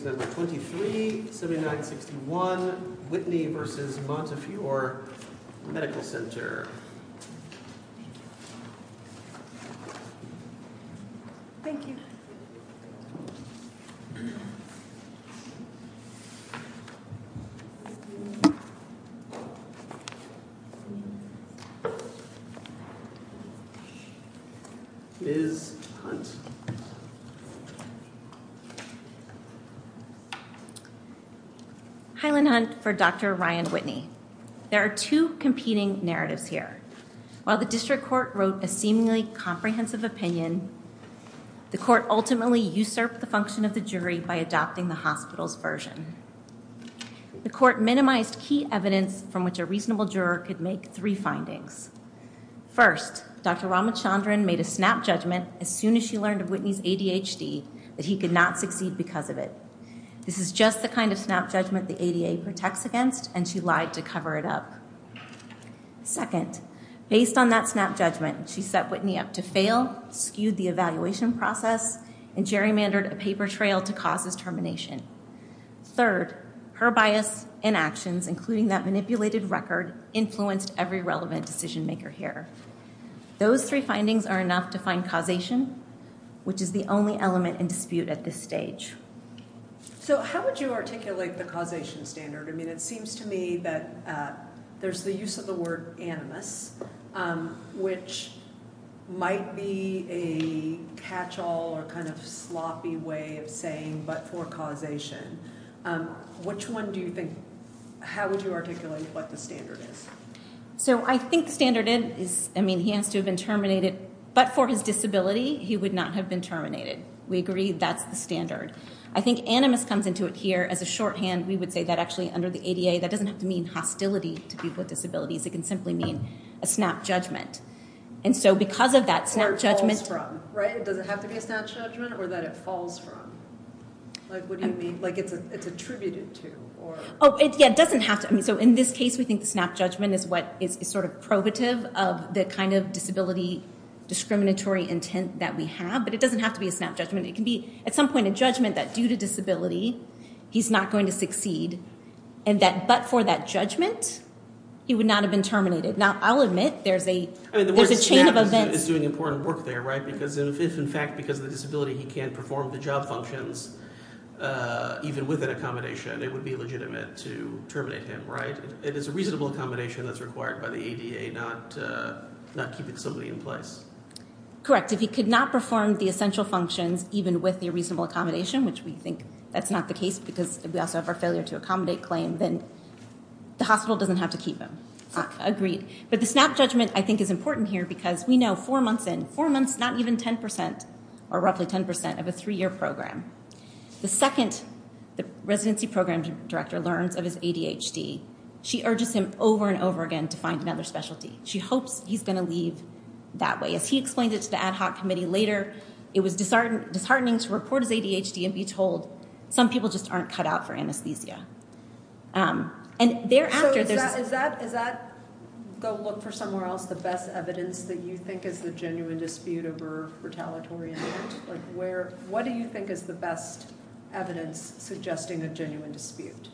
23-7961 Whitney v. Montefiore Medical Center Ms. Hunt Dr. Ryan Whitney Ms. Hunt Ms. Hunt Ms. Hunt The word snap is doing important work there, right? Because if in fact because of the disability he can't perform the job functions, even with an accommodation, it would be legitimate to terminate him, right? It is a reasonable accommodation that's required by the ADA not keeping somebody in place. Correct. If he could not perform the essential functions even with the reasonable accommodation, which we think that's not the case because we also have our failure to accommodate claim, then the hospital doesn't have to keep him. Agreed. But the snap judgment I think is important here because we know four months in, four months not even 10% or roughly 10% of a three-year program. The second the residency program director learns of his ADHD, she urges him over and over again to find another specialty. She hopes he's going to leave that way. As he explained it to the ad hoc committee later, it was disheartening to report his ADHD and be told some people just aren't cut out for anesthesia. Is that, go look for somewhere else, the best evidence that you think is the genuine dispute over retaliatory intent? What do you think is the best evidence suggesting a genuine dispute?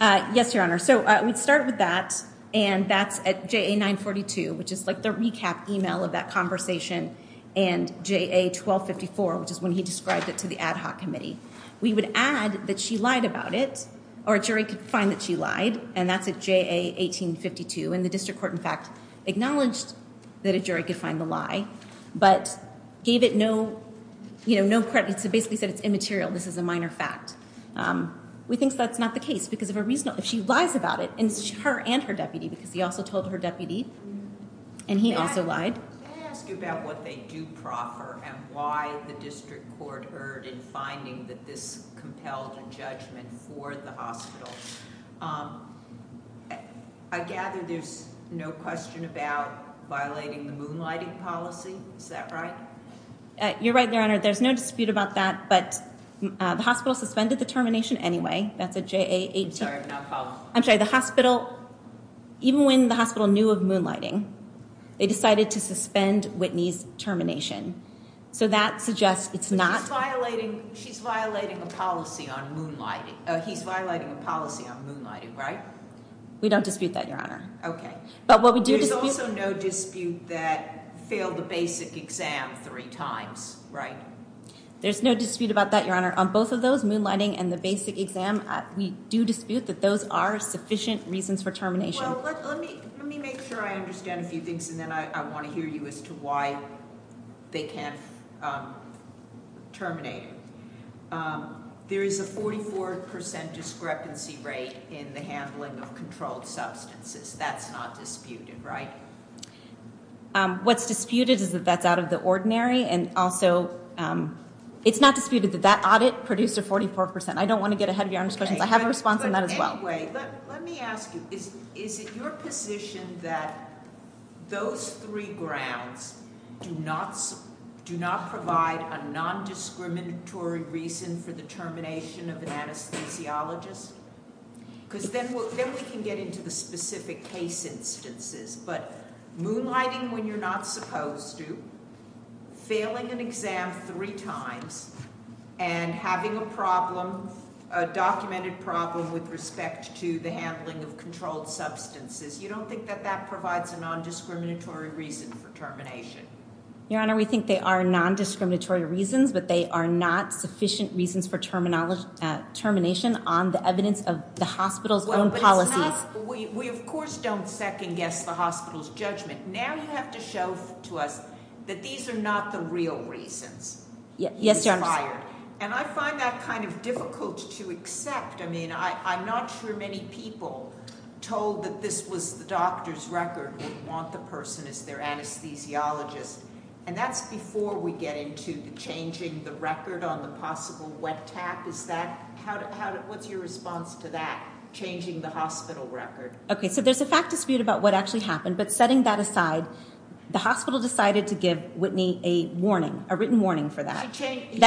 Yes, Your Honor. So we'd start with that and that's at JA 942, which is like the recap email of that conversation and JA 1254, which is when he described it to the ad hoc committee. We would add that she lied about it, or a jury could find that she lied, and that's at JA 1852. And the district court, in fact, acknowledged that a jury could find the lie, but gave it no, you know, no credit. So basically said it's immaterial, this is a minor fact. We think that's not the case because if she lies about it, and her and her deputy, because he also told her deputy, and he also lied. Can I ask you about what they do proffer and why the district court erred in finding that this compelled a judgment for the hospital? I gather there's no question about violating the moonlighting policy, is that right? You're right, Your Honor. There's no dispute about that, but the hospital suspended the termination anyway. I'm sorry, I'm not following. I'm sorry, the hospital, even when the hospital knew of moonlighting, they decided to suspend Whitney's termination. So that suggests it's not. She's violating, she's violating a policy on moonlighting. He's violating a policy on moonlighting, right? We don't dispute that, Your Honor. Okay. But what we do dispute. There's also no dispute that failed the basic exam three times, right? There's no dispute about that, Your Honor. On both of those, moonlighting and the basic exam, we do dispute that those are sufficient reasons for termination. Well, let me make sure I understand a few things, and then I want to hear you as to why they can't terminate her. There is a 44% discrepancy rate in the handling of controlled substances. That's not disputed, right? What's disputed is that that's out of the ordinary, and also it's not disputed that that audit produced a 44%. I don't want to get ahead of Your Honor's questions. I have a response on that as well. But anyway, let me ask you, is it your position that those three grounds do not provide a nondiscriminatory reason for the termination of an anesthesiologist? Because then we can get into the specific case instances. But moonlighting when you're not supposed to, failing an exam three times, and having a problem, a documented problem with respect to the handling of controlled substances, you don't think that that provides a nondiscriminatory reason for termination? Your Honor, we think they are nondiscriminatory reasons, but they are not sufficient reasons for termination on the evidence of the hospital's own policies. We of course don't second-guess the hospital's judgment. Now you have to show to us that these are not the real reasons. Yes, Your Honor. And I find that kind of difficult to accept. I mean, I'm not sure many people told that this was the doctor's record, would want the person as their anesthesiologist. And that's before we get into the changing the record on the possible wet tap. What's your response to that, changing the hospital record? Okay, so there's a fact dispute about what actually happened, but setting that aside, the hospital decided to give Whitney a warning, a written warning for that. He changed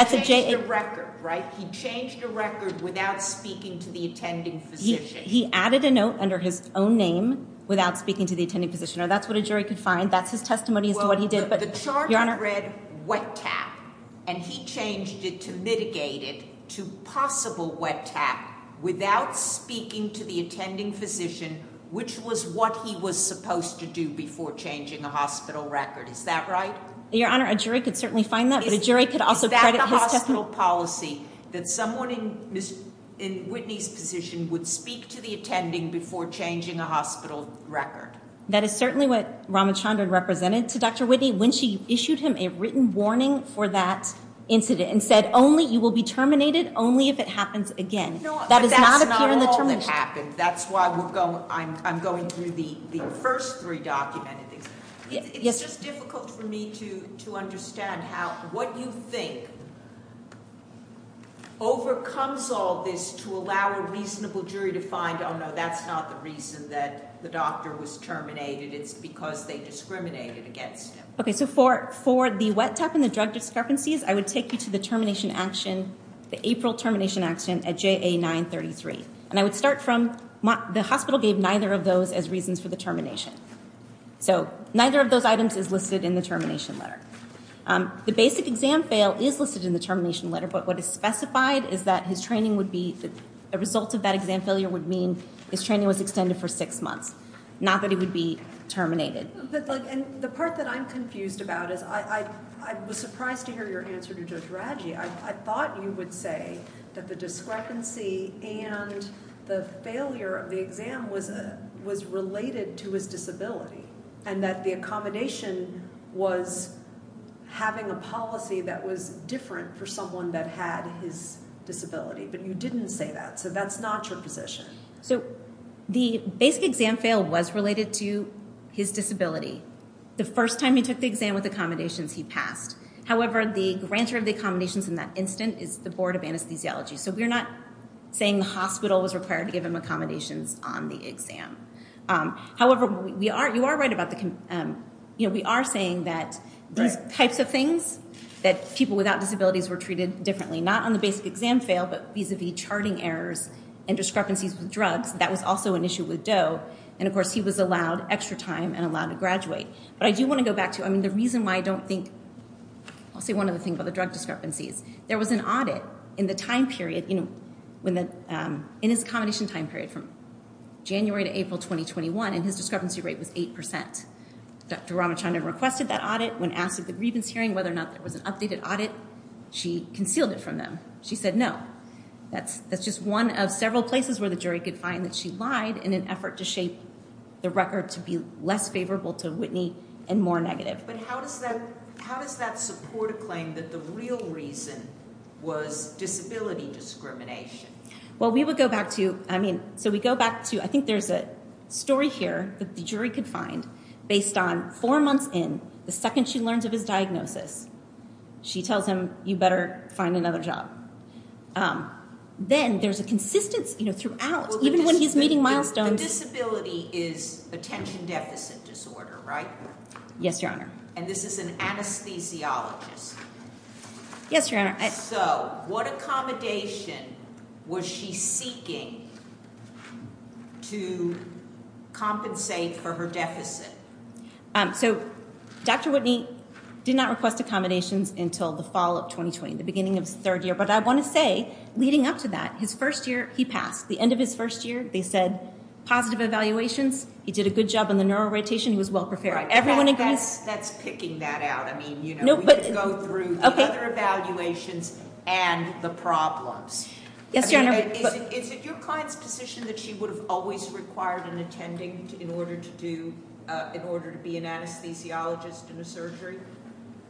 the record, right? He changed the record without speaking to the attending physician. He added a note under his own name without speaking to the attending physician. That's what a jury could find. That's his testimony as to what he did. The charge read wet tap, and he changed it to mitigate it to possible wet tap without speaking to the attending physician, which was what he was supposed to do before changing a hospital record. Is that right? Your Honor, a jury could certainly find that, but a jury could also credit his testimony. Is that the hospital policy, that someone in Whitney's position would speak to the attending before changing a hospital record? That is certainly what Ramachandran represented to Dr. Whitney when she issued him a written warning for that incident and said, only, you will be terminated only if it happens again. No, but that's not all that happened. That's why I'm going through the first three documented things. It's just difficult for me to understand how what you think overcomes all this to allow a reasonable jury to find, oh no, that's not the reason that the doctor was terminated. It's because they discriminated against him. Okay, so for the wet tap and the drug discrepancies, I would take you to the April termination action at JA 933. And I would start from the hospital gave neither of those as reasons for the termination. So neither of those items is listed in the termination letter. The basic exam fail is listed in the termination letter, but what is specified is that his training would be, a result of that exam failure would mean his training was extended for six months, not that he would be terminated. And the part that I'm confused about is I was surprised to hear your answer to Judge Radji. I thought you would say that the discrepancy and the failure of the exam was related to his disability and that the accommodation was having a policy that was different for someone that had his disability, but you didn't say that. So that's not your position. So the basic exam fail was related to his disability. The first time he took the exam with accommodations, he passed. However, the grantor of the accommodations in that instant is the Board of Anesthesiology. So we're not saying the hospital was required to give him accommodations on the exam. However, you are right about the, you know, we are saying that these types of things, that people without disabilities were treated differently, not on the basic exam fail, but vis-a-vis charting errors and discrepancies with drugs, that was also an issue with Doe. And, of course, he was allowed extra time and allowed to graduate. But I do want to go back to, I mean, the reason why I don't think, I'll say one other thing about the drug discrepancies. There was an audit in the time period, you know, in his accommodation time period from January to April 2021, and his discrepancy rate was 8%. Dr. Ramachandran requested that audit. When asked at the grievance hearing whether or not there was an updated audit, she concealed it from them. She said no. That's just one of several places where the jury could find that she lied in an effort to shape the record to be less favorable to Whitney and more negative. But how does that support a claim that the real reason was disability discrimination? Well, we would go back to, I mean, so we go back to, I think there's a story here that the jury could find. Based on four months in, the second she learns of his diagnosis, she tells him, you better find another job. Then there's a consistence, you know, throughout, even when he's meeting milestones. The disability is attention deficit disorder, right? Yes, Your Honor. And this is an anesthesiologist. Yes, Your Honor. So what accommodation was she seeking to compensate for her deficit? So Dr. Whitney did not request accommodations until the fall of 2020, the beginning of his third year. But I want to say, leading up to that, his first year, he passed. The end of his first year, they said positive evaluations. He did a good job on the neural rotation. He was well prepared. Everyone agrees? That's picking that out. I mean, you know, we could go through other evaluations and the problems. Yes, Your Honor. Is it your client's position that she would have always required an attending in order to do, in order to be an anesthesiologist in a surgery?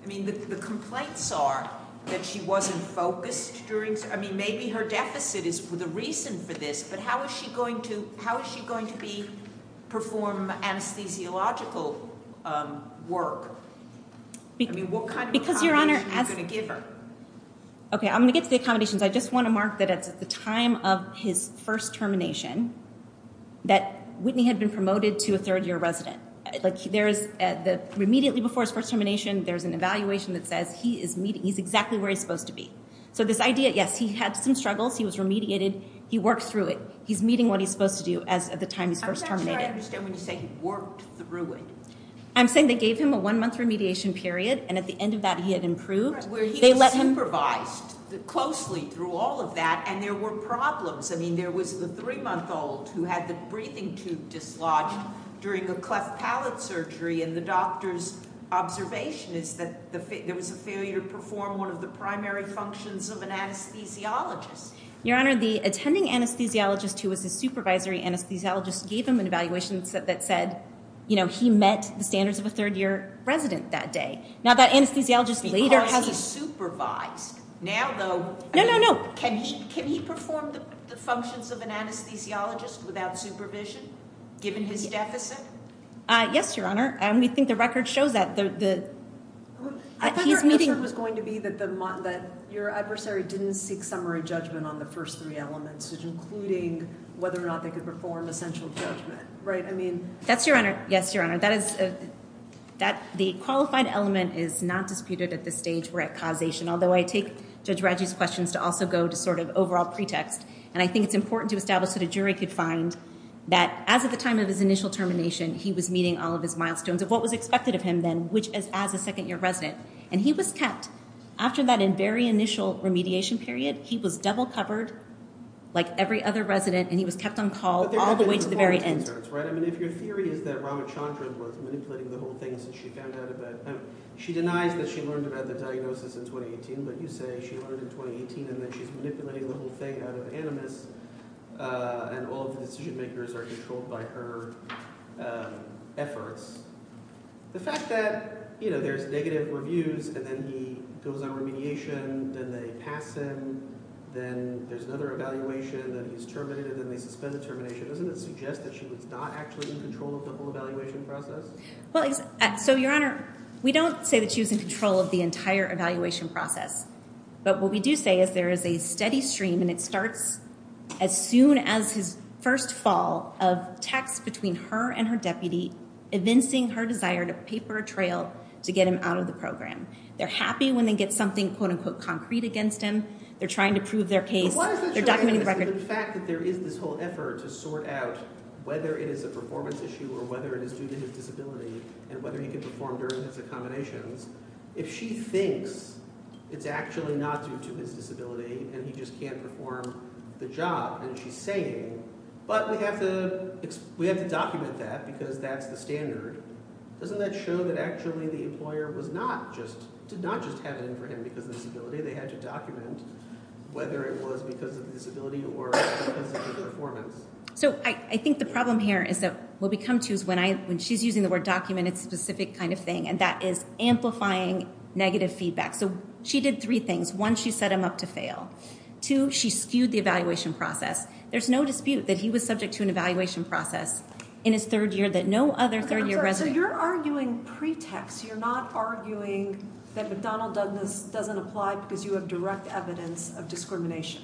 I mean, the complaints are that she wasn't focused during, I mean, maybe her deficit is the reason for this. But how is she going to be, perform anesthesiological work? I mean, what kind of accommodation are you going to give her? Okay, I'm going to get to the accommodations. I just want to mark that it's at the time of his first termination that Whitney had been promoted to a third-year resident. Like, there is, immediately before his first termination, there's an evaluation that says he's exactly where he's supposed to be. So this idea, yes, he had some struggles. He was remediated. He worked through it. He's meeting what he's supposed to do at the time he's first terminated. I'm not sure I understand when you say he worked through it. I'm saying they gave him a one-month remediation period, and at the end of that he had improved. Where he was supervised closely through all of that, and there were problems. I mean, there was the three-month-old who had the breathing tube dislodged during a cleft palate surgery, and the doctor's observation is that there was a failure to perform one of the primary functions of an anesthesiologist. Your Honor, the attending anesthesiologist who was his supervisory anesthesiologist gave him an evaluation that said, you know, he met the standards of a third-year resident that day. Now, that anesthesiologist later has a- Because he's supervised. Now, though- No, no, no. Can he perform the functions of an anesthesiologist without supervision, given his deficit? Yes, Your Honor, and we think the record shows that. I thought your answer was going to be that your adversary didn't seek summary judgment on the first three elements, including whether or not they could perform essential judgment, right? That's your Honor. Yes, Your Honor. The qualified element is not disputed at this stage. We're at causation, although I take Judge Radji's questions to also go to sort of overall pretext, and I think it's important to establish that a jury could find that as of the time of his initial termination, he was meeting all of his milestones of what was expected of him then, which is as a second-year resident, and he was kept. After that very initial remediation period, he was double-covered like every other resident, and he was kept on call all the way to the very end. But there's a couple of concerns, right? I mean, if your theory is that Ramachandran was manipulating the whole thing since she found out about him, she denies that she learned about the diagnosis in 2018, but you say she learned in 2018, and then she's manipulating the whole thing out of animus, and all of the decision-makers are controlled by her efforts. The fact that, you know, there's negative reviews, and then he goes on remediation, then they pass him, then there's another evaluation, then he's terminated, and then they suspend the termination, doesn't it suggest that she was not actually in control of the whole evaluation process? Well, so, Your Honor, we don't say that she was in control of the entire evaluation process. But what we do say is there is a steady stream, and it starts as soon as his first fall of texts between her and her deputy, evincing her desire to pay for a trail to get him out of the program. They're happy when they get something, quote-unquote, concrete against him. They're trying to prove their case. They're documenting the record. But what is the truth in the fact that there is this whole effort to sort out whether it is a performance issue or whether it is due to his disability and whether he can perform during his accommodations? If she thinks it's actually not due to his disability and he just can't perform the job, and she's saying, but we have to document that because that's the standard, doesn't that show that actually the employer did not just have it in for him because of disability? They had to document whether it was because of disability or performance. So I think the problem here is that what we come to is when she's using the word document, it's a specific kind of thing, and that is amplifying negative feedback. So she did three things. One, she set him up to fail. Two, she skewed the evaluation process. There's no dispute that he was subject to an evaluation process in his third year that no other third-year resident. So you're arguing pretext. You're not arguing that McDonnell Douglas doesn't apply because you have direct evidence of discrimination.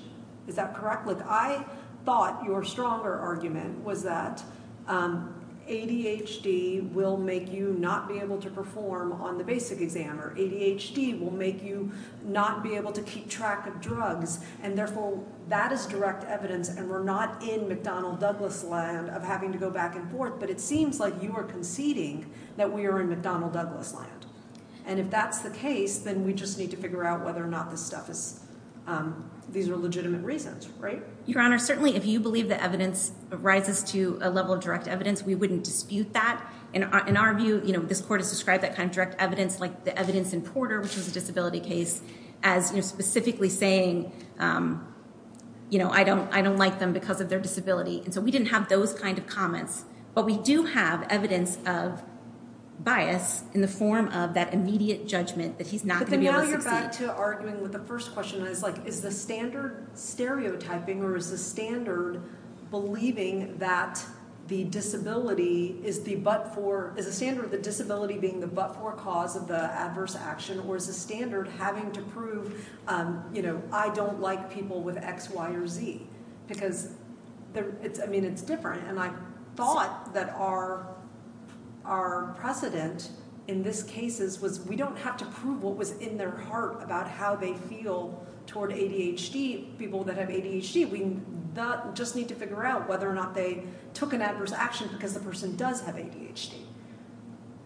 Is that correct? Look, I thought your stronger argument was that ADHD will make you not be able to perform on the basic exam or ADHD will make you not be able to keep track of drugs, and, therefore, that is direct evidence, and we're not in McDonnell Douglas' land of having to go back and forth, but it seems like you are conceding that we are in McDonnell Douglas' land. And if that's the case, then we just need to figure out whether or not these are legitimate reasons, right? Your Honor, certainly if you believe the evidence rises to a level of direct evidence, we wouldn't dispute that. In our view, this court has described that kind of direct evidence like the evidence in Porter, which is a disability case, as specifically saying, you know, I don't like them because of their disability, and so we didn't have those kind of comments, but we do have evidence of bias in the form of that immediate judgment that he's not going to be able to succeed. But then now you're back to arguing with the first question, and it's like, is the standard stereotyping or is the standard believing that the disability is the but-for, is the standard of the disability being the but-for cause of the adverse action or is the standard having to prove, you know, I don't like people with X, Y, or Z because, I mean, it's different. And I thought that our precedent in this case was we don't have to prove what was in their heart about how they feel toward ADHD, people that have ADHD. We just need to figure out whether or not they took an adverse action because the person does have ADHD.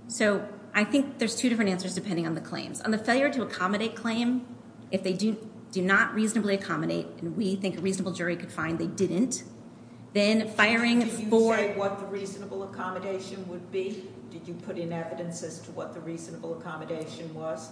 So I think there's two different answers depending on the claims. On the failure to accommodate claim, if they do not reasonably accommodate, and we think a reasonable jury could find they didn't, then firing for- Did you say what the reasonable accommodation would be? Did you put in evidence as to what the reasonable accommodation was?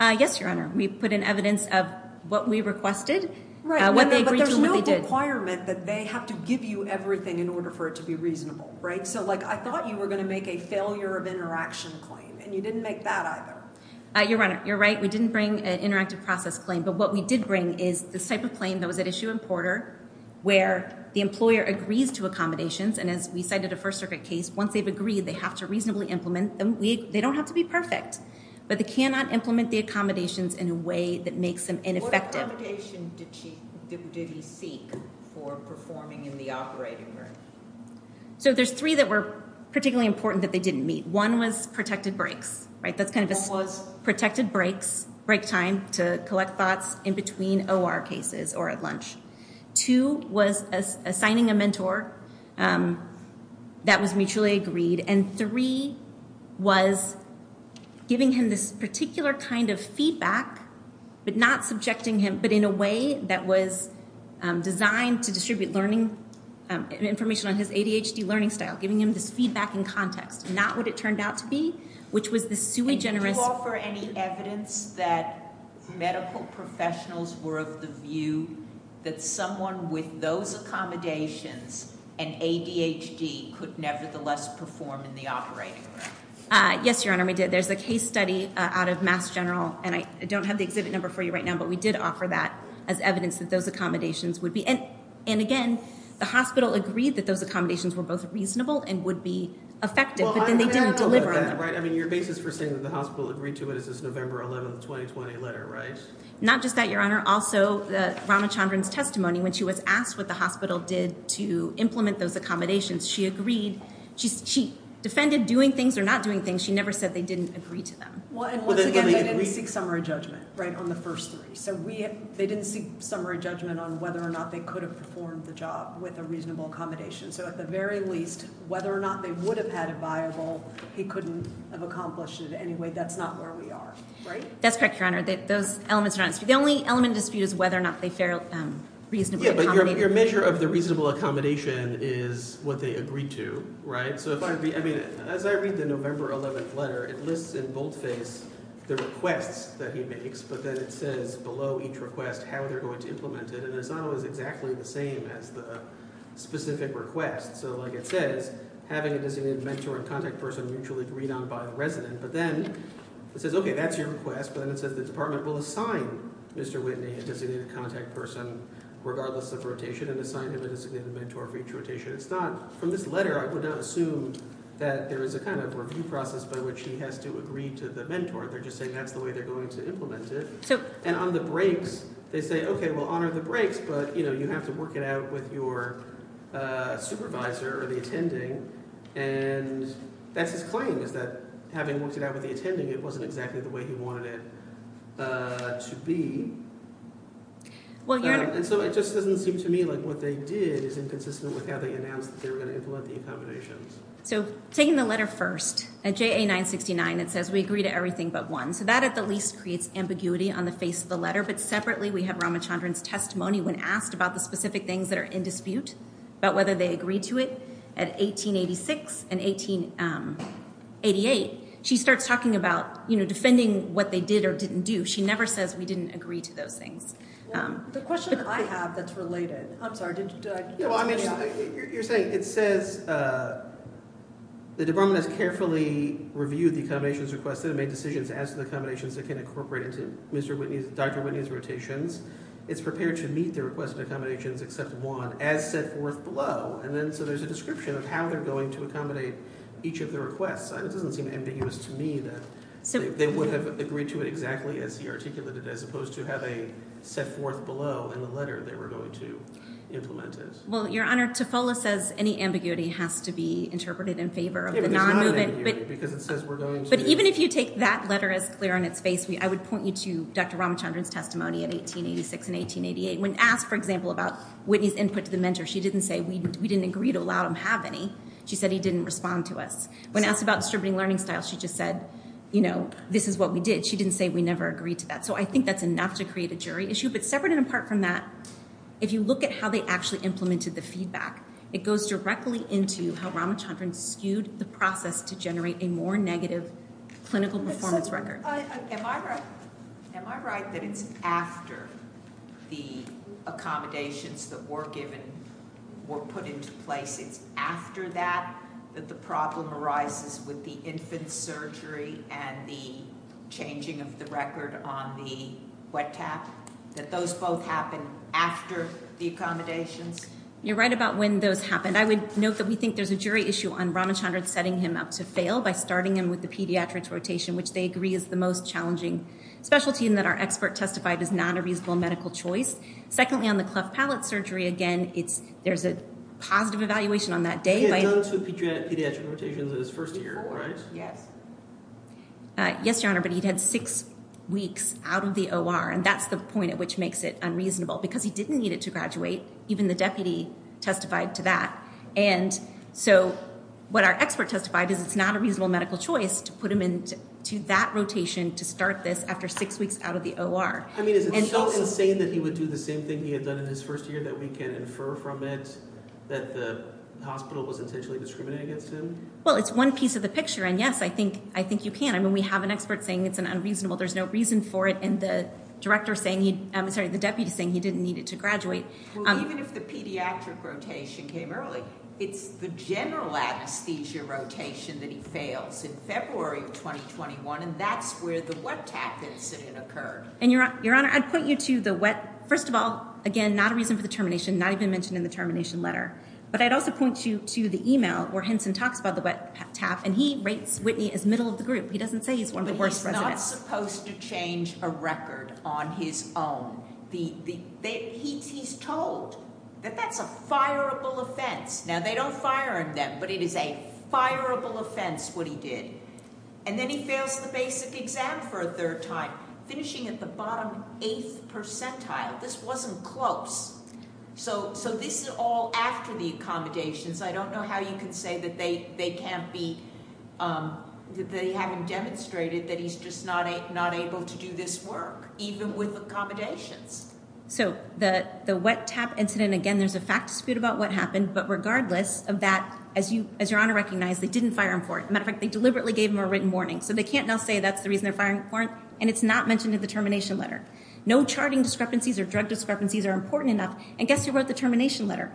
Yes, Your Honor. We put in evidence of what we requested when they agreed to what they did. Right, but there's no requirement that they have to give you everything in order for it to be reasonable, right? So, like, I thought you were going to make a failure of interaction claim, and you didn't make that either. Your Honor, you're right. We didn't bring an interactive process claim, but what we did bring is this type of claim that was at issue in Porter where the employer agrees to accommodations, and as we cited a First Circuit case, once they've agreed, they have to reasonably implement them. They don't have to be perfect, but they cannot implement the accommodations in a way that makes them ineffective. What accommodation did he seek for performing in the operating room? So there's three that were particularly important that they didn't meet. One was protected breaks, right? So it's kind of a protected breaks, break time to collect thoughts in between OR cases or at lunch. Two was assigning a mentor that was mutually agreed, and three was giving him this particular kind of feedback, but not subjecting him, but in a way that was designed to distribute learning information on his ADHD learning style, giving him this feedback in context, not what it turned out to be, which was the sui generis. Did you offer any evidence that medical professionals were of the view that someone with those accommodations and ADHD could nevertheless perform in the operating room? Yes, Your Honor, we did. There's a case study out of Mass General, and I don't have the exhibit number for you right now, but we did offer that as evidence that those accommodations would be. And again, the hospital agreed that those accommodations were both reasonable and would be effective, but then they didn't deliver on them. I mean, your basis for saying that the hospital agreed to it is this November 11, 2020 letter, right? Not just that, Your Honor. Also, Ramachandran's testimony, when she was asked what the hospital did to implement those accommodations, she agreed. She defended doing things or not doing things. She never said they didn't agree to them. And once again, they didn't seek summary judgment on the first three. So they didn't seek summary judgment on whether or not they could have performed the job with a reasonable accommodation. So at the very least, whether or not they would have had it viable, he couldn't have accomplished it anyway. That's not where we are, right? That's correct, Your Honor. Those elements are not in dispute. The only element in dispute is whether or not they fairly reasonably accommodated. Yeah, but your measure of the reasonable accommodation is what they agreed to, right? As I read the November 11 letter, it lists in boldface the requests that he makes, but then it says below each request how they're going to implement it. And it's not always exactly the same as the specific request. So like it says, having a designated mentor and contact person mutually agreed on by the resident. But then it says, okay, that's your request. But then it says the department will assign Mr. Whitney a designated contact person regardless of rotation and assign him a designated mentor for each rotation. It's not – from this letter, I would not assume that there is a kind of review process by which he has to agree to the mentor. They're just saying that's the way they're going to implement it. And on the breaks, they say, okay, we'll honor the breaks, but you have to work it out with your supervisor or the attending. And that's his claim is that having worked it out with the attending, it wasn't exactly the way he wanted it to be. And so it just doesn't seem to me like what they did is inconsistent with how they announced that they were going to implement the accommodations. So taking the letter first, at JA 969 it says we agree to everything but one. So that at the least creates ambiguity on the face of the letter. But separately we have Ramachandran's testimony when asked about the specific things that are in dispute, about whether they agreed to it. At 1886 and 1888, she starts talking about defending what they did or didn't do. She never says we didn't agree to those things. The question I have that's related – I'm sorry, did I – Well, I mean you're saying it says the department has carefully reviewed the accommodations requested and made decisions as to the accommodations that can incorporate into Mr. Whitney's – Dr. Whitney's rotations. It's prepared to meet the request of accommodations except one as set forth below. And then so there's a description of how they're going to accommodate each of the requests. It doesn't seem ambiguous to me that they would have agreed to it exactly as he articulated it as opposed to have a set forth below in the letter they were going to implement it. Well, Your Honor, TOFOLA says any ambiguity has to be interpreted in favor of the non-movement. It's not ambiguity because it says we're going to – But even if you take that letter as clear on its face, I would point you to Dr. Ramachandran's testimony in 1886 and 1888. When asked, for example, about Whitney's input to the mentor, she didn't say we didn't agree to allow him to have any. She said he didn't respond to us. When asked about distributing learning styles, she just said, you know, this is what we did. She didn't say we never agreed to that. So I think that's enough to create a jury issue. But separate and apart from that, if you look at how they actually implemented the feedback, it goes directly into how Ramachandran skewed the process to generate a more negative clinical performance record. Am I right that it's after the accommodations that were given were put into place? It's after that that the problem arises with the infant surgery and the changing of the record on the wet tap? That those both happened after the accommodations? You're right about when those happened. I would note that we think there's a jury issue on Ramachandran setting him up to fail by starting him with the pediatrics rotation, which they agree is the most challenging specialty and that our expert testified is not a reasonable medical choice. Secondly, on the cleft palate surgery, again, there's a positive evaluation on that day. He had done two pediatric rotations in his first year, right? Yes. Yes, Your Honor, but he'd had six weeks out of the OR, and that's the point at which makes it unreasonable, because he didn't need it to graduate. Even the deputy testified to that. And so what our expert testified is it's not a reasonable medical choice to put him into that rotation to start this after six weeks out of the OR. I mean, is it still insane that he would do the same thing he had done in his first year, that we can infer from it that the hospital was intentionally discriminating against him? Well, it's one piece of the picture, and, yes, I think you can. I mean, we have an expert saying it's unreasonable, there's no reason for it, and the deputy is saying he didn't need it to graduate. Well, even if the pediatric rotation came early, it's the general anesthesia rotation that he fails in February of 2021, and that's where the wet tap incident occurred. And, Your Honor, I'd point you to the wet, first of all, again, not a reason for the termination, not even mentioned in the termination letter, but I'd also point you to the email where Henson talks about the wet tap, and he rates Whitney as middle of the group. He doesn't say he's one of the worst residents. But he's not supposed to change a record on his own. He's told that that's a fireable offense. Now, they don't fire him then, but it is a fireable offense what he did. And then he fails the basic exam for a third time, finishing at the bottom eighth percentile. This wasn't close. So this is all after the accommodations. I don't know how you can say that they can't be, that they haven't demonstrated that he's just not able to do this work, even with accommodations. So the wet tap incident, again, there's a fact dispute about what happened, but regardless of that, as Your Honor recognized, they didn't fire him for it. As a matter of fact, they deliberately gave him a written warning. So they can't now say that's the reason they're firing him for it, and it's not mentioned in the termination letter. No charting discrepancies or drug discrepancies are important enough. And guess who wrote the termination letter?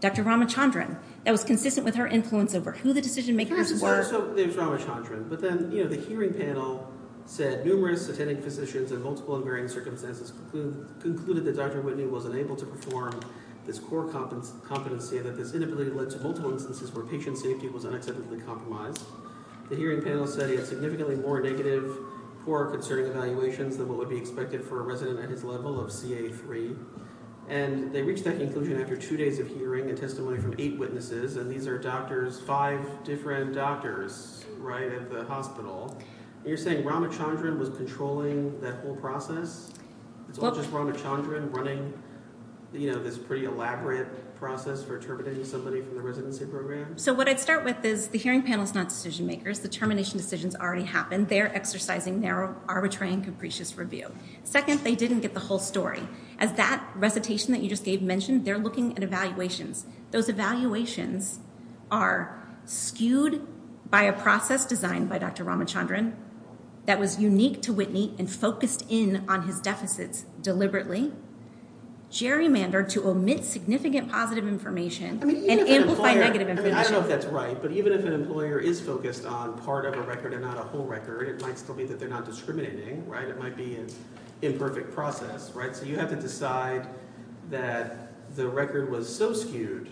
Dr. Ramachandran. That was consistent with her influence over who the decision-makers were. So there's Ramachandran. But then, you know, the hearing panel said, numerous attending physicians in multiple and varying circumstances concluded that Dr. Whitney wasn't able to perform this core competency, that this inability led to multiple instances where patient safety was unacceptably compromised. The hearing panel said he had significantly more negative, poor or concerning evaluations than what would be expected for a resident at his level of CA3. And they reached that conclusion after two days of hearing and testimony from eight witnesses, and these are doctors, five different doctors, right, at the hospital. And you're saying Ramachandran was controlling that whole process? It's all just Ramachandran running, you know, this pretty elaborate process for terminating somebody from the residency program? So what I'd start with is the hearing panel is not decision-makers. The termination decision's already happened. They're exercising narrow, arbitrary, and capricious review. Second, they didn't get the whole story. As that recitation that you just gave mentioned, they're looking at evaluations. Those evaluations are skewed by a process designed by Dr. Ramachandran that was unique to Whitney and focused in on his deficits deliberately, gerrymandered to omit significant positive information and amplify negative information. I don't know if that's right, but even if an employer is focused on part of a record and not a whole record, it might still be that they're not discriminating, right? So you have to decide that the record was so skewed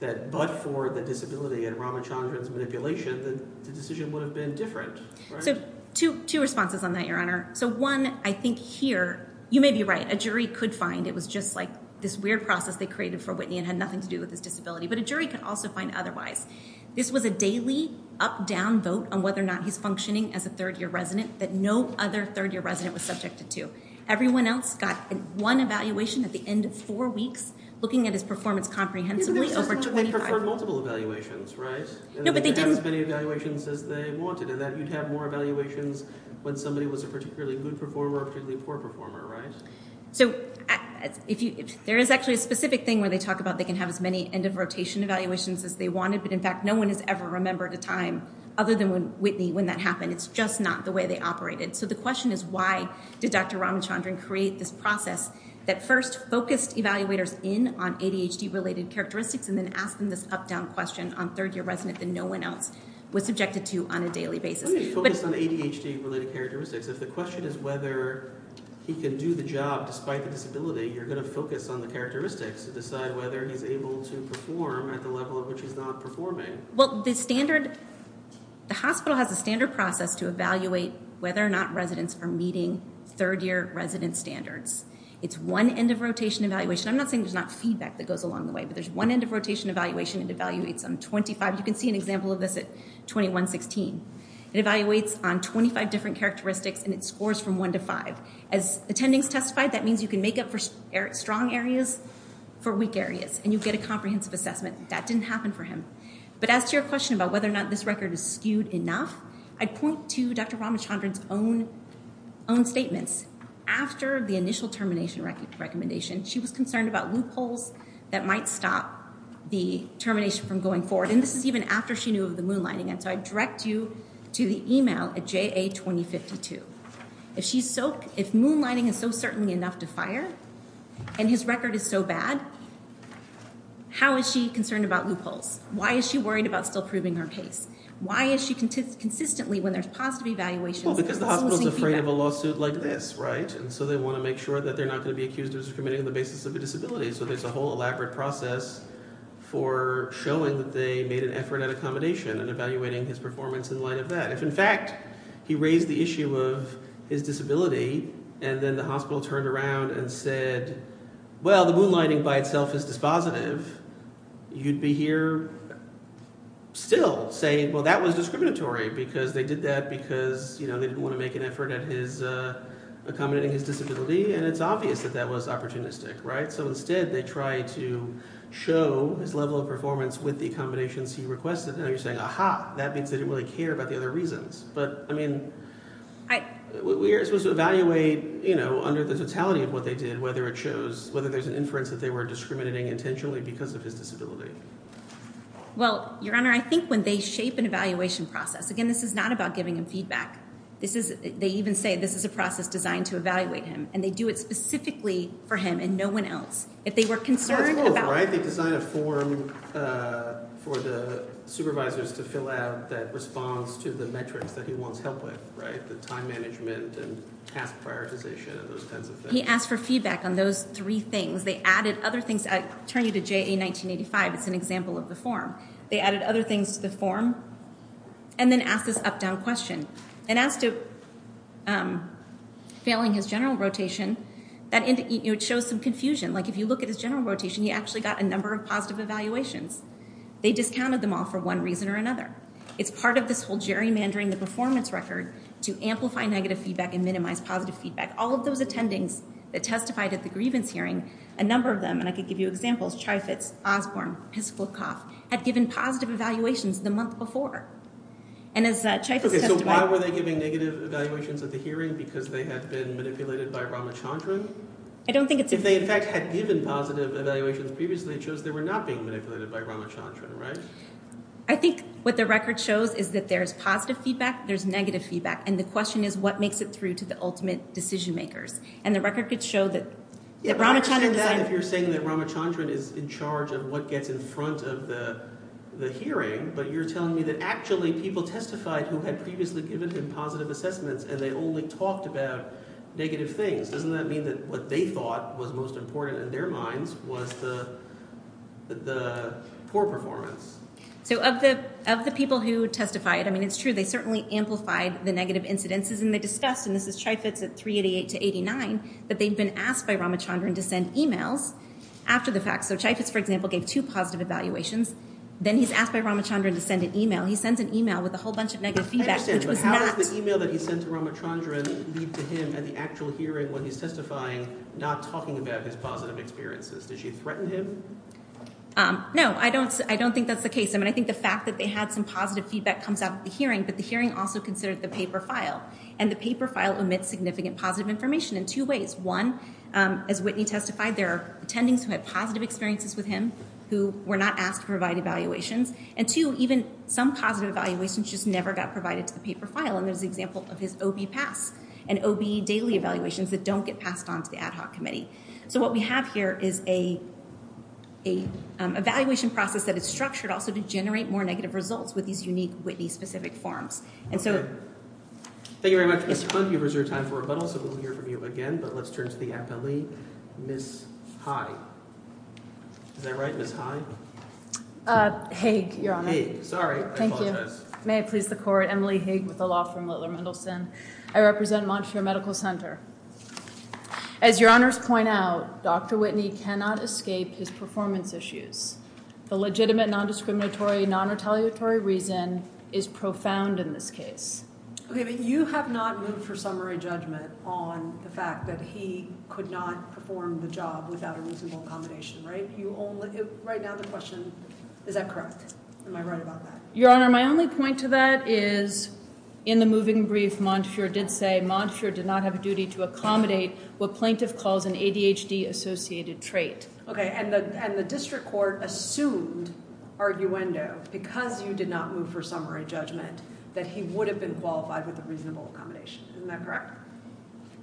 that but for the disability and Ramachandran's manipulation, the decision would have been different, right? So two responses on that, Your Honor. So one, I think here you may be right. A jury could find it was just like this weird process they created for Whitney and had nothing to do with his disability, but a jury could also find otherwise. This was a daily up-down vote on whether or not he's functioning as a third-year resident that no other third-year resident was subjected to. Everyone else got one evaluation at the end of four weeks, looking at his performance comprehensively over 25 years. Isn't there a system where they perform multiple evaluations, right? No, but they didn't. And they would have as many evaluations as they wanted, and that you'd have more evaluations when somebody was a particularly good performer or a particularly poor performer, right? So there is actually a specific thing where they talk about they can have as many end-of-rotation evaluations as they wanted, but in fact no one has ever remembered a time other than when Whitney when that happened. It's just not the way they operated. So the question is why did Dr. Ramachandran create this process that first focused evaluators in on ADHD-related characteristics and then asked them this up-down question on third-year resident that no one else was subjected to on a daily basis? What do you mean focused on ADHD-related characteristics? If the question is whether he can do the job despite the disability, you're going to focus on the characteristics to decide whether he's able to perform at the level at which he's not performing. Well, the standard, the hospital has a standard process to evaluate whether or not residents are meeting third-year resident standards. It's one end-of-rotation evaluation. I'm not saying there's not feedback that goes along the way, but there's one end-of-rotation evaluation, and it evaluates on 25. You can see an example of this at 21-16. It evaluates on 25 different characteristics, and it scores from 1 to 5. As attendings testified, that means you can make up for strong areas for weak areas, and you get a comprehensive assessment. That didn't happen for him. But as to your question about whether or not this record is skewed enough, I'd point to Dr. Ramachandran's own statements. After the initial termination recommendation, she was concerned about loopholes that might stop the termination from going forward, and this is even after she knew of the moonlighting, and so I direct you to the email at JA2052. If moonlighting is so certainly enough to fire and his record is so bad, how is she concerned about loopholes? Why is she worried about still proving her case? Why is she consistently, when there's positive evaluations, still losing feedback? Well, because the hospital is afraid of a lawsuit like this, right? And so they want to make sure that they're not going to be accused of discriminating on the basis of a disability. So there's a whole elaborate process for showing that they made an effort at accommodation and evaluating his performance in light of that. If, in fact, he raised the issue of his disability, and then the hospital turned around and said, well, the moonlighting by itself is dispositive, you'd be here still saying, well, that was discriminatory because they did that because they didn't want to make an effort at accommodating his disability, and it's obvious that that was opportunistic, right? So instead, they try to show his level of performance with the accommodations he requested, and you're saying, aha, that means they didn't really care about the other reasons. But, I mean, we're supposed to evaluate, you know, under the totality of what they did, whether it shows, whether there's an inference that they were discriminating intentionally because of his disability. Well, Your Honor, I think when they shape an evaluation process, again, this is not about giving him feedback. They even say this is a process designed to evaluate him, and they do it specifically for him and no one else. If they were concerned about... That's cool, right? They design a form for the supervisors to fill out that responds to the metrics that he wants help with, right? The time management and task prioritization and those kinds of things. He asked for feedback on those three things. They added other things. I turn you to JA 1985. It's an example of the form. They added other things to the form and then asked this up-down question. And as to failing his general rotation, it shows some confusion. Like, if you look at his general rotation, he actually got a number of positive evaluations. They discounted them all for one reason or another. It's part of this whole gerrymandering the performance record to amplify negative feedback and minimize positive feedback. All of those attendings that testified at the grievance hearing, a number of them, and I could give you examples, Chyfetz, Osborne, Piskulkov, had given positive evaluations the month before. And as Chyfetz testified... Okay, so why were they giving negative evaluations at the hearing? Because they had been manipulated by Ramachandran? I don't think it's... If they, in fact, had given positive evaluations previously, it shows they were not being manipulated by Ramachandran, right? I think what the record shows is that there's positive feedback, there's negative feedback, and the question is what makes it through to the ultimate decision-makers. And the record could show that Ramachandran then... I understand if you're saying that Ramachandran is in charge of what gets in front of the hearing, but you're telling me that actually people testified who had previously given him positive assessments and they only talked about negative things. Doesn't that mean that what they thought was most important in their minds was the poor performance? So of the people who testified, I mean, it's true, they certainly amplified the negative incidences, and they discussed, and this is Chyfetz at 388-89, that they'd been asked by Ramachandran to send e-mails after the fact. So Chyfetz, for example, gave two positive evaluations. Then he's asked by Ramachandran to send an e-mail. He sends an e-mail with a whole bunch of negative feedback, which was not... I understand, but how does the e-mail that he sent to Ramachandran lead to him at the actual hearing when he's testifying not talking about his positive experiences? Does she threaten him? No, I don't think that's the case. I mean, I think the fact that they had some positive feedback comes out at the hearing, but the hearing also considered the paper file, and the paper file omits significant positive information in two ways. One, as Whitney testified, there are attendings who had positive experiences with him who were not asked to provide evaluations, and two, even some positive evaluations just never got provided to the paper file, and there's the example of his OB pass and OB daily evaluations that don't get passed on to the ad hoc committee. So what we have here is an evaluation process that is structured also to generate more negative results with these unique Whitney-specific forms. Okay. Thank you very much, Ms. Hunt. You have reserved time for rebuttal, so we'll hear from you again, but let's turn to the appellee, Ms. High. Is that right, Ms. High? Hague, Your Honor. Hague. Sorry, I apologize. May it please the Court. Emily Hague with the law firm Littler Mendelsohn. I represent Montefiore Medical Center. As Your Honor's point out, Dr. Whitney cannot escape his performance issues. The legitimate non-discriminatory, non-retaliatory reason is profound in this case. Okay, but you have not moved for summary judgment on the fact that he could not perform the job without a reasonable accommodation, right? Right now the question, is that correct? Am I right about that? Your Honor, my only point to that is, in the moving brief, Montefiore did say, Montefiore did not have a duty to accommodate what plaintiff calls an ADHD-associated trait. Okay, and the district court assumed, arguendo, because you did not move for summary judgment, that he would have been qualified with a reasonable accommodation. Isn't that correct?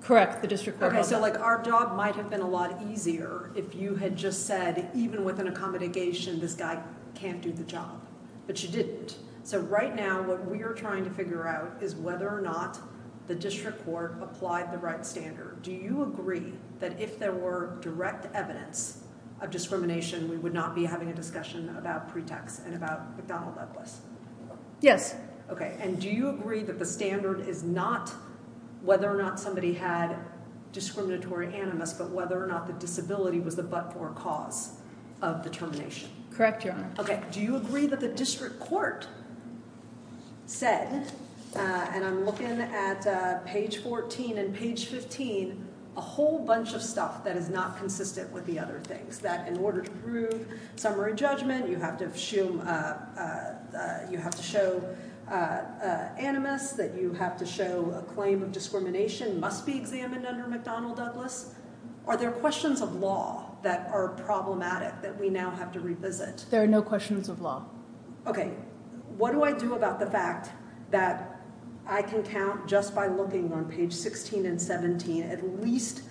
Correct, the district court held that. Okay, so like our job might have been a lot easier if you had just said, even with an accommodation, this guy can't do the job. But you didn't. So right now, what we are trying to figure out is whether or not the district court applied the right standard. Do you agree that if there were direct evidence of discrimination, we would not be having a discussion about pretext and about McDonnell Douglas? Yes. Okay, and do you agree that the standard is not whether or not somebody had discriminatory animus, but whether or not the disability was the but-for cause of the termination? Correct, Your Honor. Okay, do you agree that the district court said, and I'm looking at page 14 and page 15, a whole bunch of stuff that is not consistent with the other things, that in order to prove summary judgment, you have to show animus, that you have to show a claim of discrimination must be examined under McDonnell Douglas? Are there questions of law that are problematic that we now have to revisit? There are no questions of law. Okay. What do I do about the fact that I can count just by looking on page 16 and 17 at least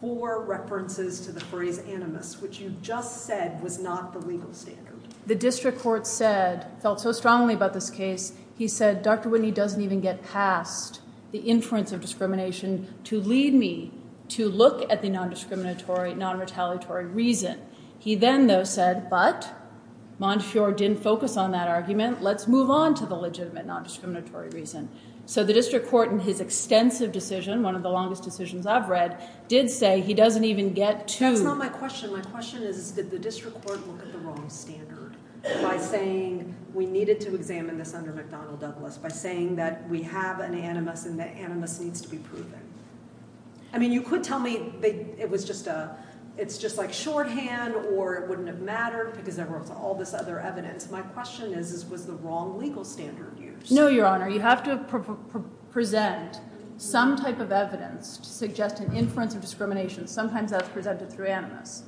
four references to the phrase animus, which you just said was not the legal standard? The district court said, felt so strongly about this case, he said, Dr. Whitney doesn't even get past the inference of discrimination to lead me to look at the non-discriminatory, non-retaliatory reason. He then, though, said, but Montefiore didn't focus on that argument, let's move on to the legitimate non-discriminatory reason. So the district court in his extensive decision, one of the longest decisions I've read, did say he doesn't even get to. That's not my question. My question is, did the district court look at the wrong standard by saying we needed to examine this under McDonnell Douglas, by saying that we have an animus and the animus needs to be proven? I mean, you could tell me it was just a, a shorthand or it wouldn't have mattered because there was all this other evidence. My question is, was the wrong legal standard used? No, Your Honor. You have to present some type of evidence to suggest an inference of discrimination. Sometimes that's presented through animus.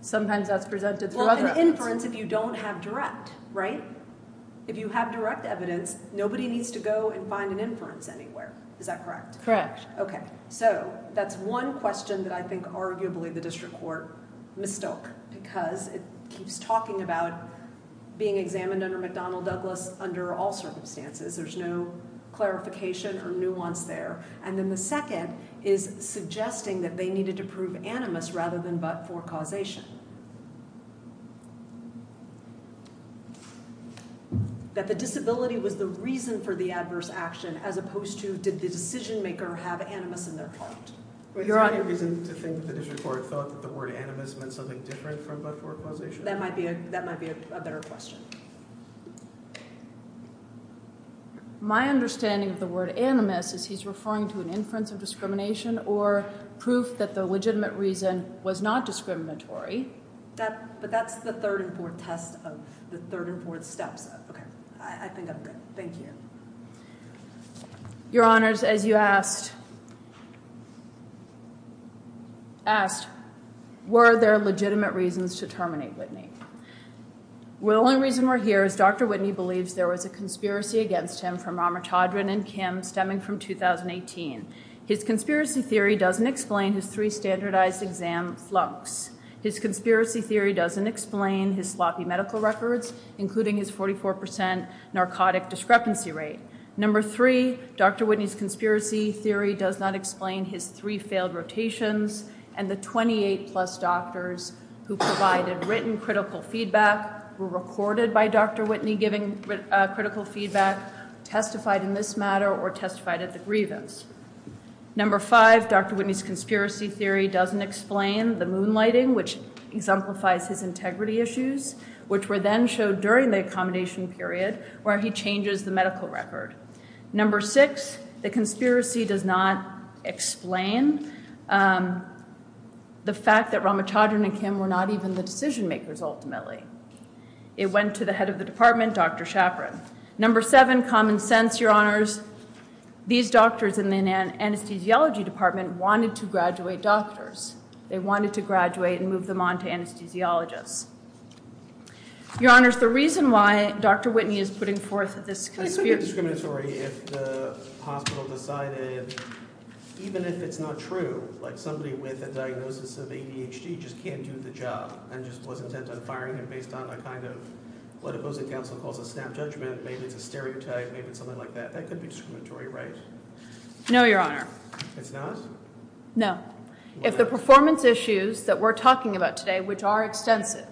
Sometimes that's presented through other evidence. Well, an inference if you don't have direct, right? If you have direct evidence, nobody needs to go and find an inference anywhere. Is that correct? Correct. OK. So that's one question that I think, arguably, the district court mistook because it keeps talking about being examined under McDonnell Douglas under all circumstances. There's no clarification or nuance there. And then the second is suggesting that they needed to prove animus rather than but for causation. That the disability was the reason for the adverse action as opposed to did the decision maker have animus in their court? Is there any reason to think that the district court thought that the word animus meant something different from but for causation? That might be a better question. My understanding of the word animus is he's referring to an inference of discrimination or proof that the legitimate reason was not discriminatory. But that's the third and fourth test of the third and fourth steps. I think I'm good. Thank you. Your Honors, as you asked, were there legitimate reasons to terminate Whitney? The only reason we're here is Dr. Whitney believes there was a conspiracy against him from Ramachandran and Kim, stemming from 2018. His conspiracy theory doesn't explain his three standardized exam flunks. His conspiracy theory doesn't explain his sloppy medical records, including his 44% narcotic discrepancy rate. Number three, Dr. Whitney's conspiracy theory does not explain his three failed rotations. And the 28-plus doctors who provided written critical feedback were recorded by Dr. Whitney, giving critical feedback, testified in this matter or testified at the grievance. Number five, Dr. Whitney's conspiracy theory doesn't explain the moonlighting, which exemplifies his integrity issues, which were then showed during the accommodation period, where he changes the medical record. Number six, the conspiracy does not explain the fact that Ramachandran and Kim were not even the decision makers, ultimately. It went to the head of the department, Dr. Schaffran. Number seven, common sense, Your Honors. These doctors in the anesthesiology department wanted to graduate doctors. They wanted to graduate and move them on to anesthesiologists. Your Honors, the reason why Dr. Whitney is putting forth this conspiracy theory I think it would be discriminatory if the hospital decided, even if it's not true, like somebody with a diagnosis of ADHD just can't do the job and just was intent on firing him based on a kind of what opposing counsel calls a snap judgment. Maybe it's a stereotype. Maybe it's something like that. That could be discriminatory, right? No, Your Honor. It's not? No. If the performance issues that we're talking about today, which are extensive.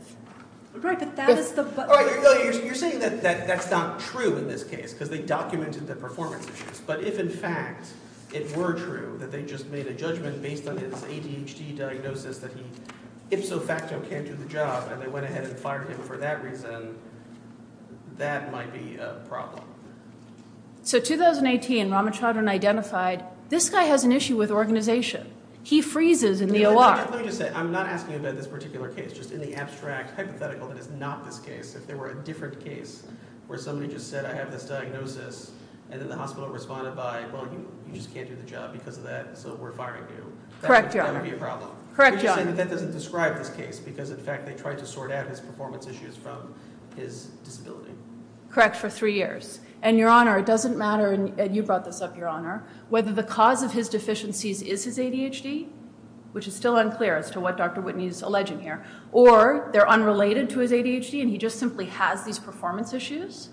Right. But that is the but. All right. You're saying that that's not true in this case because they documented the performance issues. But if, in fact, it were true that they just made a judgment based on his ADHD diagnosis that he ifso facto can't do the job and they went ahead and fired him for that reason, that might be a problem. So 2018, Ramachandran identified, this guy has an issue with organization. He freezes in the OR. Let me just say. I'm not asking about this particular case. Just in the abstract hypothetical, that is not this case. If there were a different case where somebody just said, I have this diagnosis. And then the hospital responded by, well, you just can't do the job because of that. So we're firing you. Correct, Your Honor. That would be a problem. Correct, Your Honor. That doesn't describe this case because, in fact, they tried to sort out his performance issues from his disability. Correct, for three years. And, Your Honor, it doesn't matter. And you brought this up, Your Honor. Whether the cause of his deficiencies is his ADHD, which is still unclear as to what Dr. Whitney is alleging here, or they're unrelated to his ADHD and he just simply has these performance issues,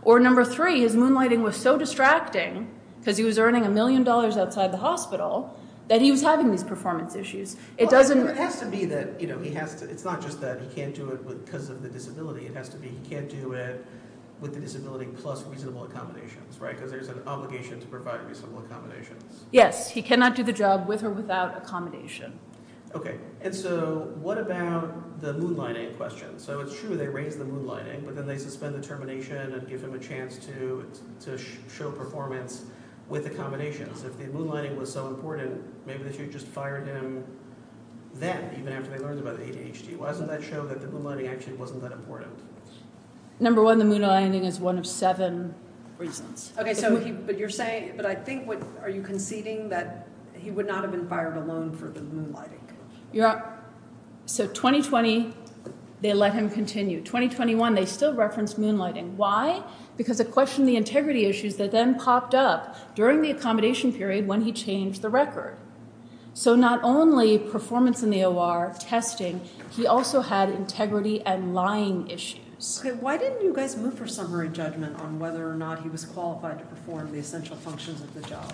or number three, his moonlighting was so distracting because he was earning a million dollars outside the hospital that he was having these performance issues. Well, it has to be that he has to. It's not just that he can't do it because of the disability. It has to be he can't do it with the disability plus reasonable accommodations, right? Because there's an obligation to provide reasonable accommodations. Yes. He cannot do the job with or without accommodation. Okay. And so what about the moonlighting question? So it's true they raised the moonlighting, but then they suspend the termination and give him a chance to show performance with accommodations. If the moonlighting was so important, maybe they should have just fired him then, even after they learned about the ADHD. Why doesn't that show that the moonlighting actually wasn't that important? Number one, the moonlighting is one of seven reasons. Okay. But you're saying, but I think, are you conceding that he would not have been fired alone for the moonlighting? Yeah. So 2020, they let him continue. 2021, they still referenced moonlighting. Why? Because it questioned the integrity issues that then popped up during the accommodation period when he changed the record. So not only performance in the OR, testing, he also had integrity and lying issues. Okay. Why didn't you guys move for summary judgment on whether or not he was qualified to perform the essential functions of the job,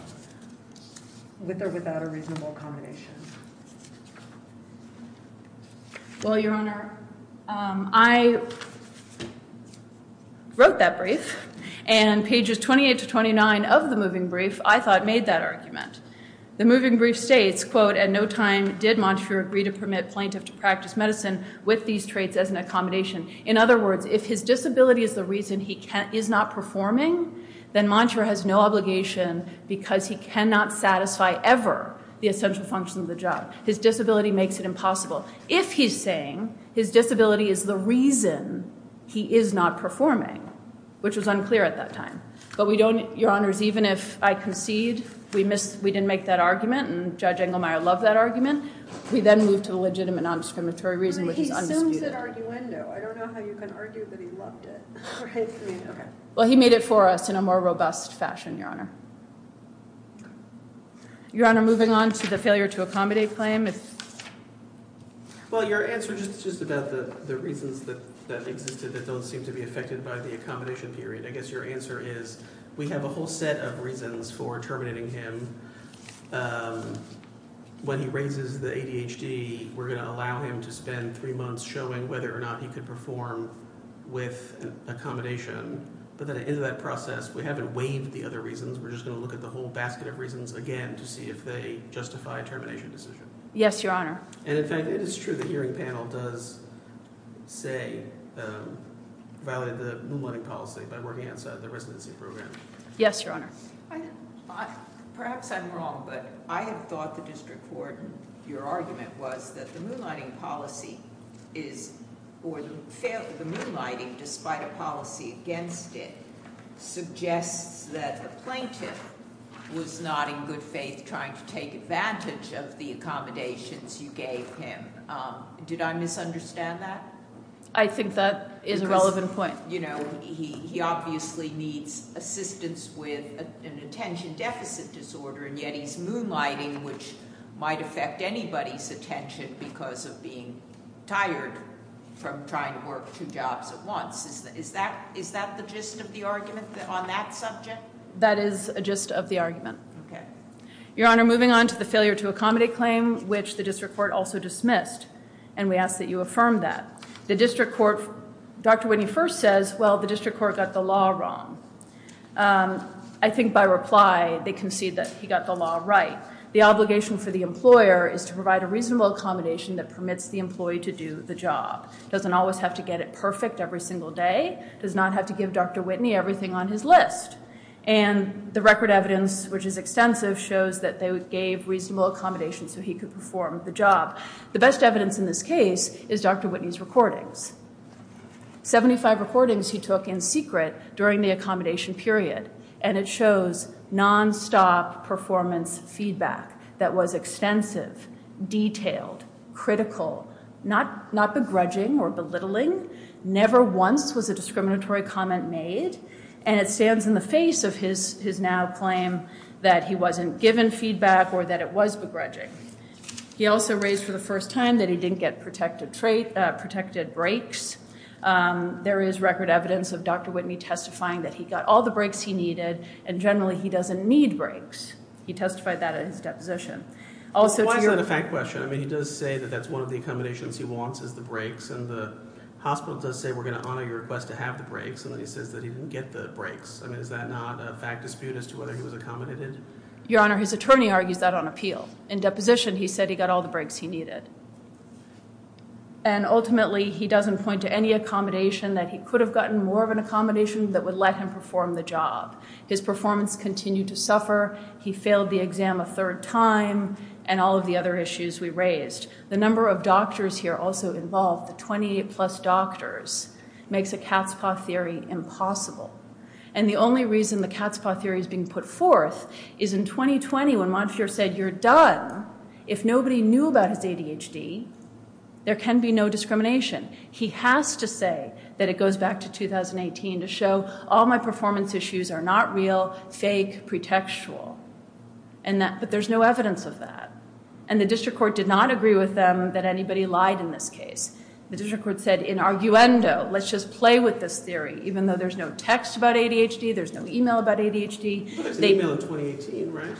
with or without a reasonable accommodation? Well, Your Honor, I wrote that brief, and pages 28 to 29 of the moving brief, I thought made that argument. The moving brief states, quote, at no time did Montreux agree to permit plaintiff to practice medicine with these traits as an accommodation. In other words, if his disability is the reason he is not performing, then Montreux has no obligation because he cannot satisfy ever the essential functions of the job. His disability makes it impossible. If he's saying his disability is the reason he is not performing, which was unclear at that time, but we don't, Your Honors, even if I concede we didn't make that argument, and Judge Engelmeyer loved that argument, we then move to the legitimate non-discriminatory reason, which is undisputed. He assumes that arguendo. I don't know how you can argue that he loved it. Well, he made it for us in a more robust fashion, Your Honor, moving on to the failure to accommodate claim. Well, your answer is just about the reasons that existed that don't seem to be affected by the accommodation period. I guess your answer is we have a whole set of reasons for terminating him. When he raises the ADHD, we're going to allow him to spend three months showing whether or not he could perform with accommodation, but then at the end of that process, we haven't waived the other reasons. We're just going to look at the whole basket of reasons again to see if they justify a termination decision. Yes, Your Honor. And in fact, it is true the hearing panel does say violated the moonlighting policy by working outside the residency program. Yes, Your Honor. Perhaps I'm wrong, but I have thought the district court, your argument was that the moonlighting policy or the moonlighting, despite a policy against it, suggests that the plaintiff was not in good faith trying to take advantage of the accommodations you gave him. Did I misunderstand that? I think that is a relevant point. Because, you know, he obviously needs assistance with an attention deficit disorder, and yet he's moonlighting, which might affect anybody's attention because of being tired from trying to work two jobs at once. Is that the gist of the argument on that subject? That is a gist of the argument. Okay. Your Honor, moving on to the failure to accommodate claim, which the district court also dismissed, and we ask that you affirm that. The district court, Dr. Whitney first says, well, the district court got the law wrong. I think by reply, they concede that he got the law right. The obligation for the employer is to provide a reasonable accommodation that permits the employee to do the job. He doesn't always have to get it perfect every single day. He does not have to give Dr. Whitney everything on his list. And the record evidence, which is extensive, shows that they gave reasonable accommodations so he could perform the job. The best evidence in this case is Dr. Whitney's recordings. 75 recordings he took in secret during the accommodation period, and it shows nonstop performance feedback that was extensive, detailed, critical, not begrudging or belittling. Never once was a discriminatory comment made, and it stands in the face of his now claim that he wasn't given feedback or that it was begrudging. He also raised for the first time that he didn't get protected breaks. There is record evidence of Dr. Whitney testifying that he got all the breaks he needed, and generally he doesn't need breaks. He testified that in his deposition. Also... Why is that a fact question? I mean, he does say that that's one of the accommodations he wants is the breaks, and the hospital does say, we're going to honor your request to have the breaks, and then he says that he didn't get the breaks. I mean, is that not a fact dispute as to whether he was accommodated? Your Honor, his attorney argues that on appeal. In deposition, he said he got all the breaks he needed. And ultimately, he doesn't point to any accommodation that he could have gotten more of an accommodation that would let him perform the job. His performance continued to suffer. He failed the exam a third time, and all of the other issues we raised. The number of doctors here also involved, the 28-plus doctors, makes a Katzpah theory impossible. And the only reason the Katzpah theory is being put forth is in 2020, when Monfior said, you're done if nobody knew about his ADHD, there can be no discrimination. He has to say that it goes back to 2018 to show all my performance issues are not real, fake, pretextual. But there's no evidence of that. And the district court did not agree with them that anybody lied in this case. The district court said, in arguendo, let's just play with this theory, even though there's no text about ADHD, there's no email about ADHD. There's an email in 2018, right?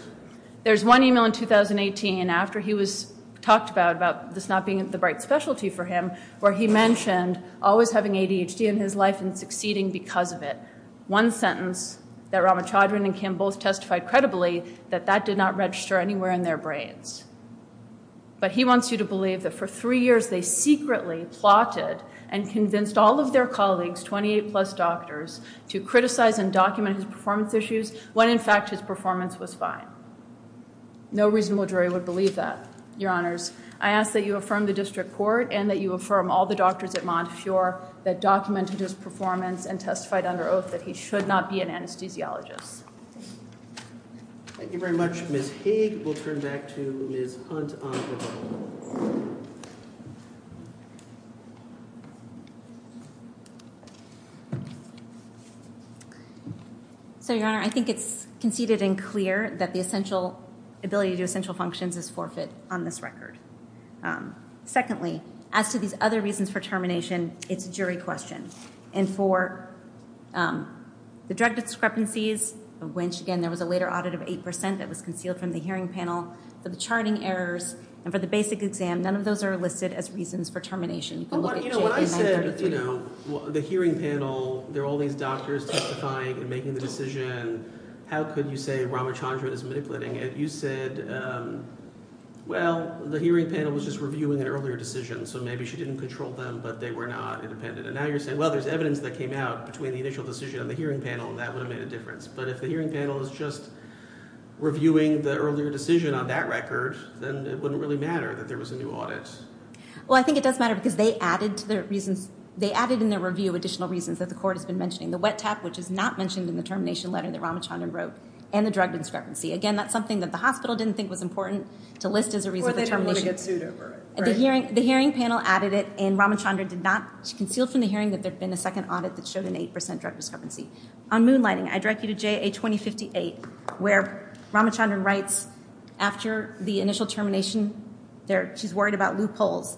There's one email in 2018, after he was talked about, about this not being the right specialty for him, where he mentioned always having ADHD in his life and succeeding because of it. One sentence that Ramachandran and Kim both testified credibly, that that did not register anywhere in their brains. But he wants you to believe that for three years they secretly plotted and convinced all of their colleagues, 28-plus doctors, to criticize and document his performance issues when, in fact, his performance was fine. No reasonable jury would believe that, Your Honors. I ask that you affirm the district court and that you affirm all the doctors at Monfior that documented his performance and testified under oath that he should not be an anesthesiologist. Thank you very much. Ms. Haig will turn back to Ms. Hunt on her own. So, Your Honor, I think it's conceded and clear that the ability to do essential functions is forfeit on this record. Secondly, as to these other reasons for termination, it's a jury question. And for the drug discrepancies, of which, again, there was a later audit of 8% that was concealed from the hearing panel, for the charting errors, and for the basic exam, none of those are listed as reasons for termination. But, you know, when I said, you know, the hearing panel, there are all these doctors testifying and making the decision. How could you say Ramachandran is manipulating it? You said, well, the hearing panel was just reviewing an earlier decision, so maybe she didn't control them, but they were not independent. And now you're saying, well, there's evidence that came out between the initial decision and the hearing panel, and that would have made a difference. But if the hearing panel is just reviewing the earlier decision on that record, then it wouldn't really matter that there was a new audit. Well, I think it does matter because they added in their review additional reasons that the court has been mentioning. The wet tap, which is not mentioned in the termination letter that Ramachandran wrote, and the drug discrepancy. Again, that's something that the hospital didn't think was important to list as a reason for termination. Or they don't want to get sued over it, right? The hearing panel added it, and Ramachandran did not, she concealed from the hearing that there had been a second audit that showed an 8% drug discrepancy. On moonlighting, I direct you to JA 2058, where Ramachandran writes, after the initial termination, she's worried about loopholes.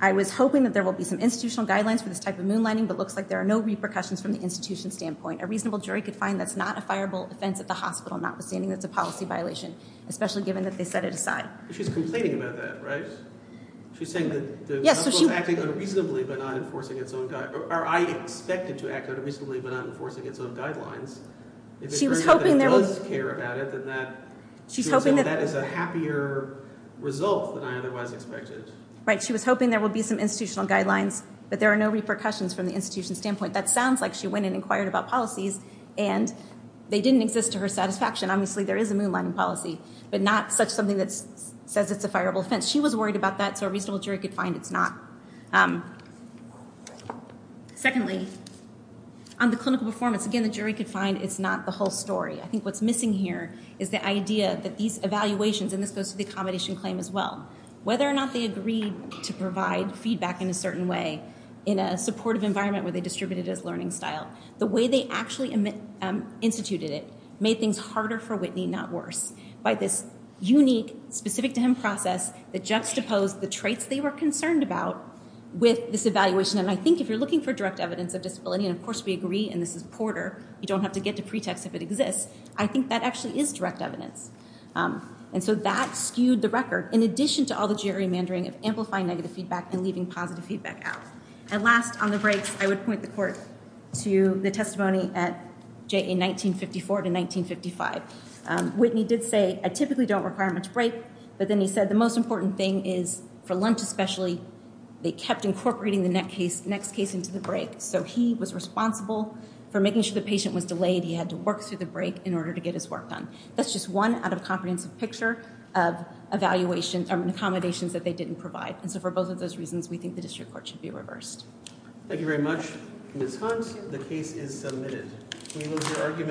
I was hoping that there will be some institutional guidelines for this type of moonlighting, but it looks like there are no repercussions from the institution standpoint. A reasonable jury could find that's not a fireable offense at the hospital, notwithstanding that's a policy violation, especially given that they set it aside. She's complaining about that, right? She's saying that the hospital is acting unreasonably but not enforcing its own, or I expect it to act unreasonably but not enforcing its own guidelines. If it turns out that it does care about it, then that is a happier result than I otherwise expected. Right. She was hoping there would be some institutional guidelines, but there are no repercussions from the institution standpoint. That sounds like she went and inquired about policies, and they didn't exist to her satisfaction. Obviously, there is a moonlighting policy, but not such something that says it's a fireable offense. She was worried about that, so a reasonable jury could find it's not. Secondly, on the clinical performance, again, the jury could find it's not the whole story. I think what's missing here is the idea that these evaluations, and this goes to the accommodation claim as well, whether or not they agreed to provide feedback in a certain way in a supportive environment where they distributed it as learning style, the way they actually instituted it made things harder for Whitney, not worse, by this unique, specific-to-him process that juxtaposed the traits they were concerned about with this evaluation. And I think if you're looking for direct evidence of disability, and of course we agree, and this is Porter, you don't have to get to pretext if it exists, I think that actually is direct evidence. And so that skewed the record in addition to all the gerrymandering of amplifying negative feedback and leaving positive feedback out. And last, on the breaks, I would point the court to the testimony at JA 1954 to 1955. Whitney did say, I typically don't require much break, but then he said, the most important thing is, for Lunt especially, they kept incorporating the next case into the break. So he was responsible for making sure the patient was delayed, he had to work through the break in order to get his work done. That's just one out-of-comprehensive picture of accommodations that they didn't provide. And so for both of those reasons, we think the district court should be reversed. Thank you very much. Ms. Hunt, the case is submitted.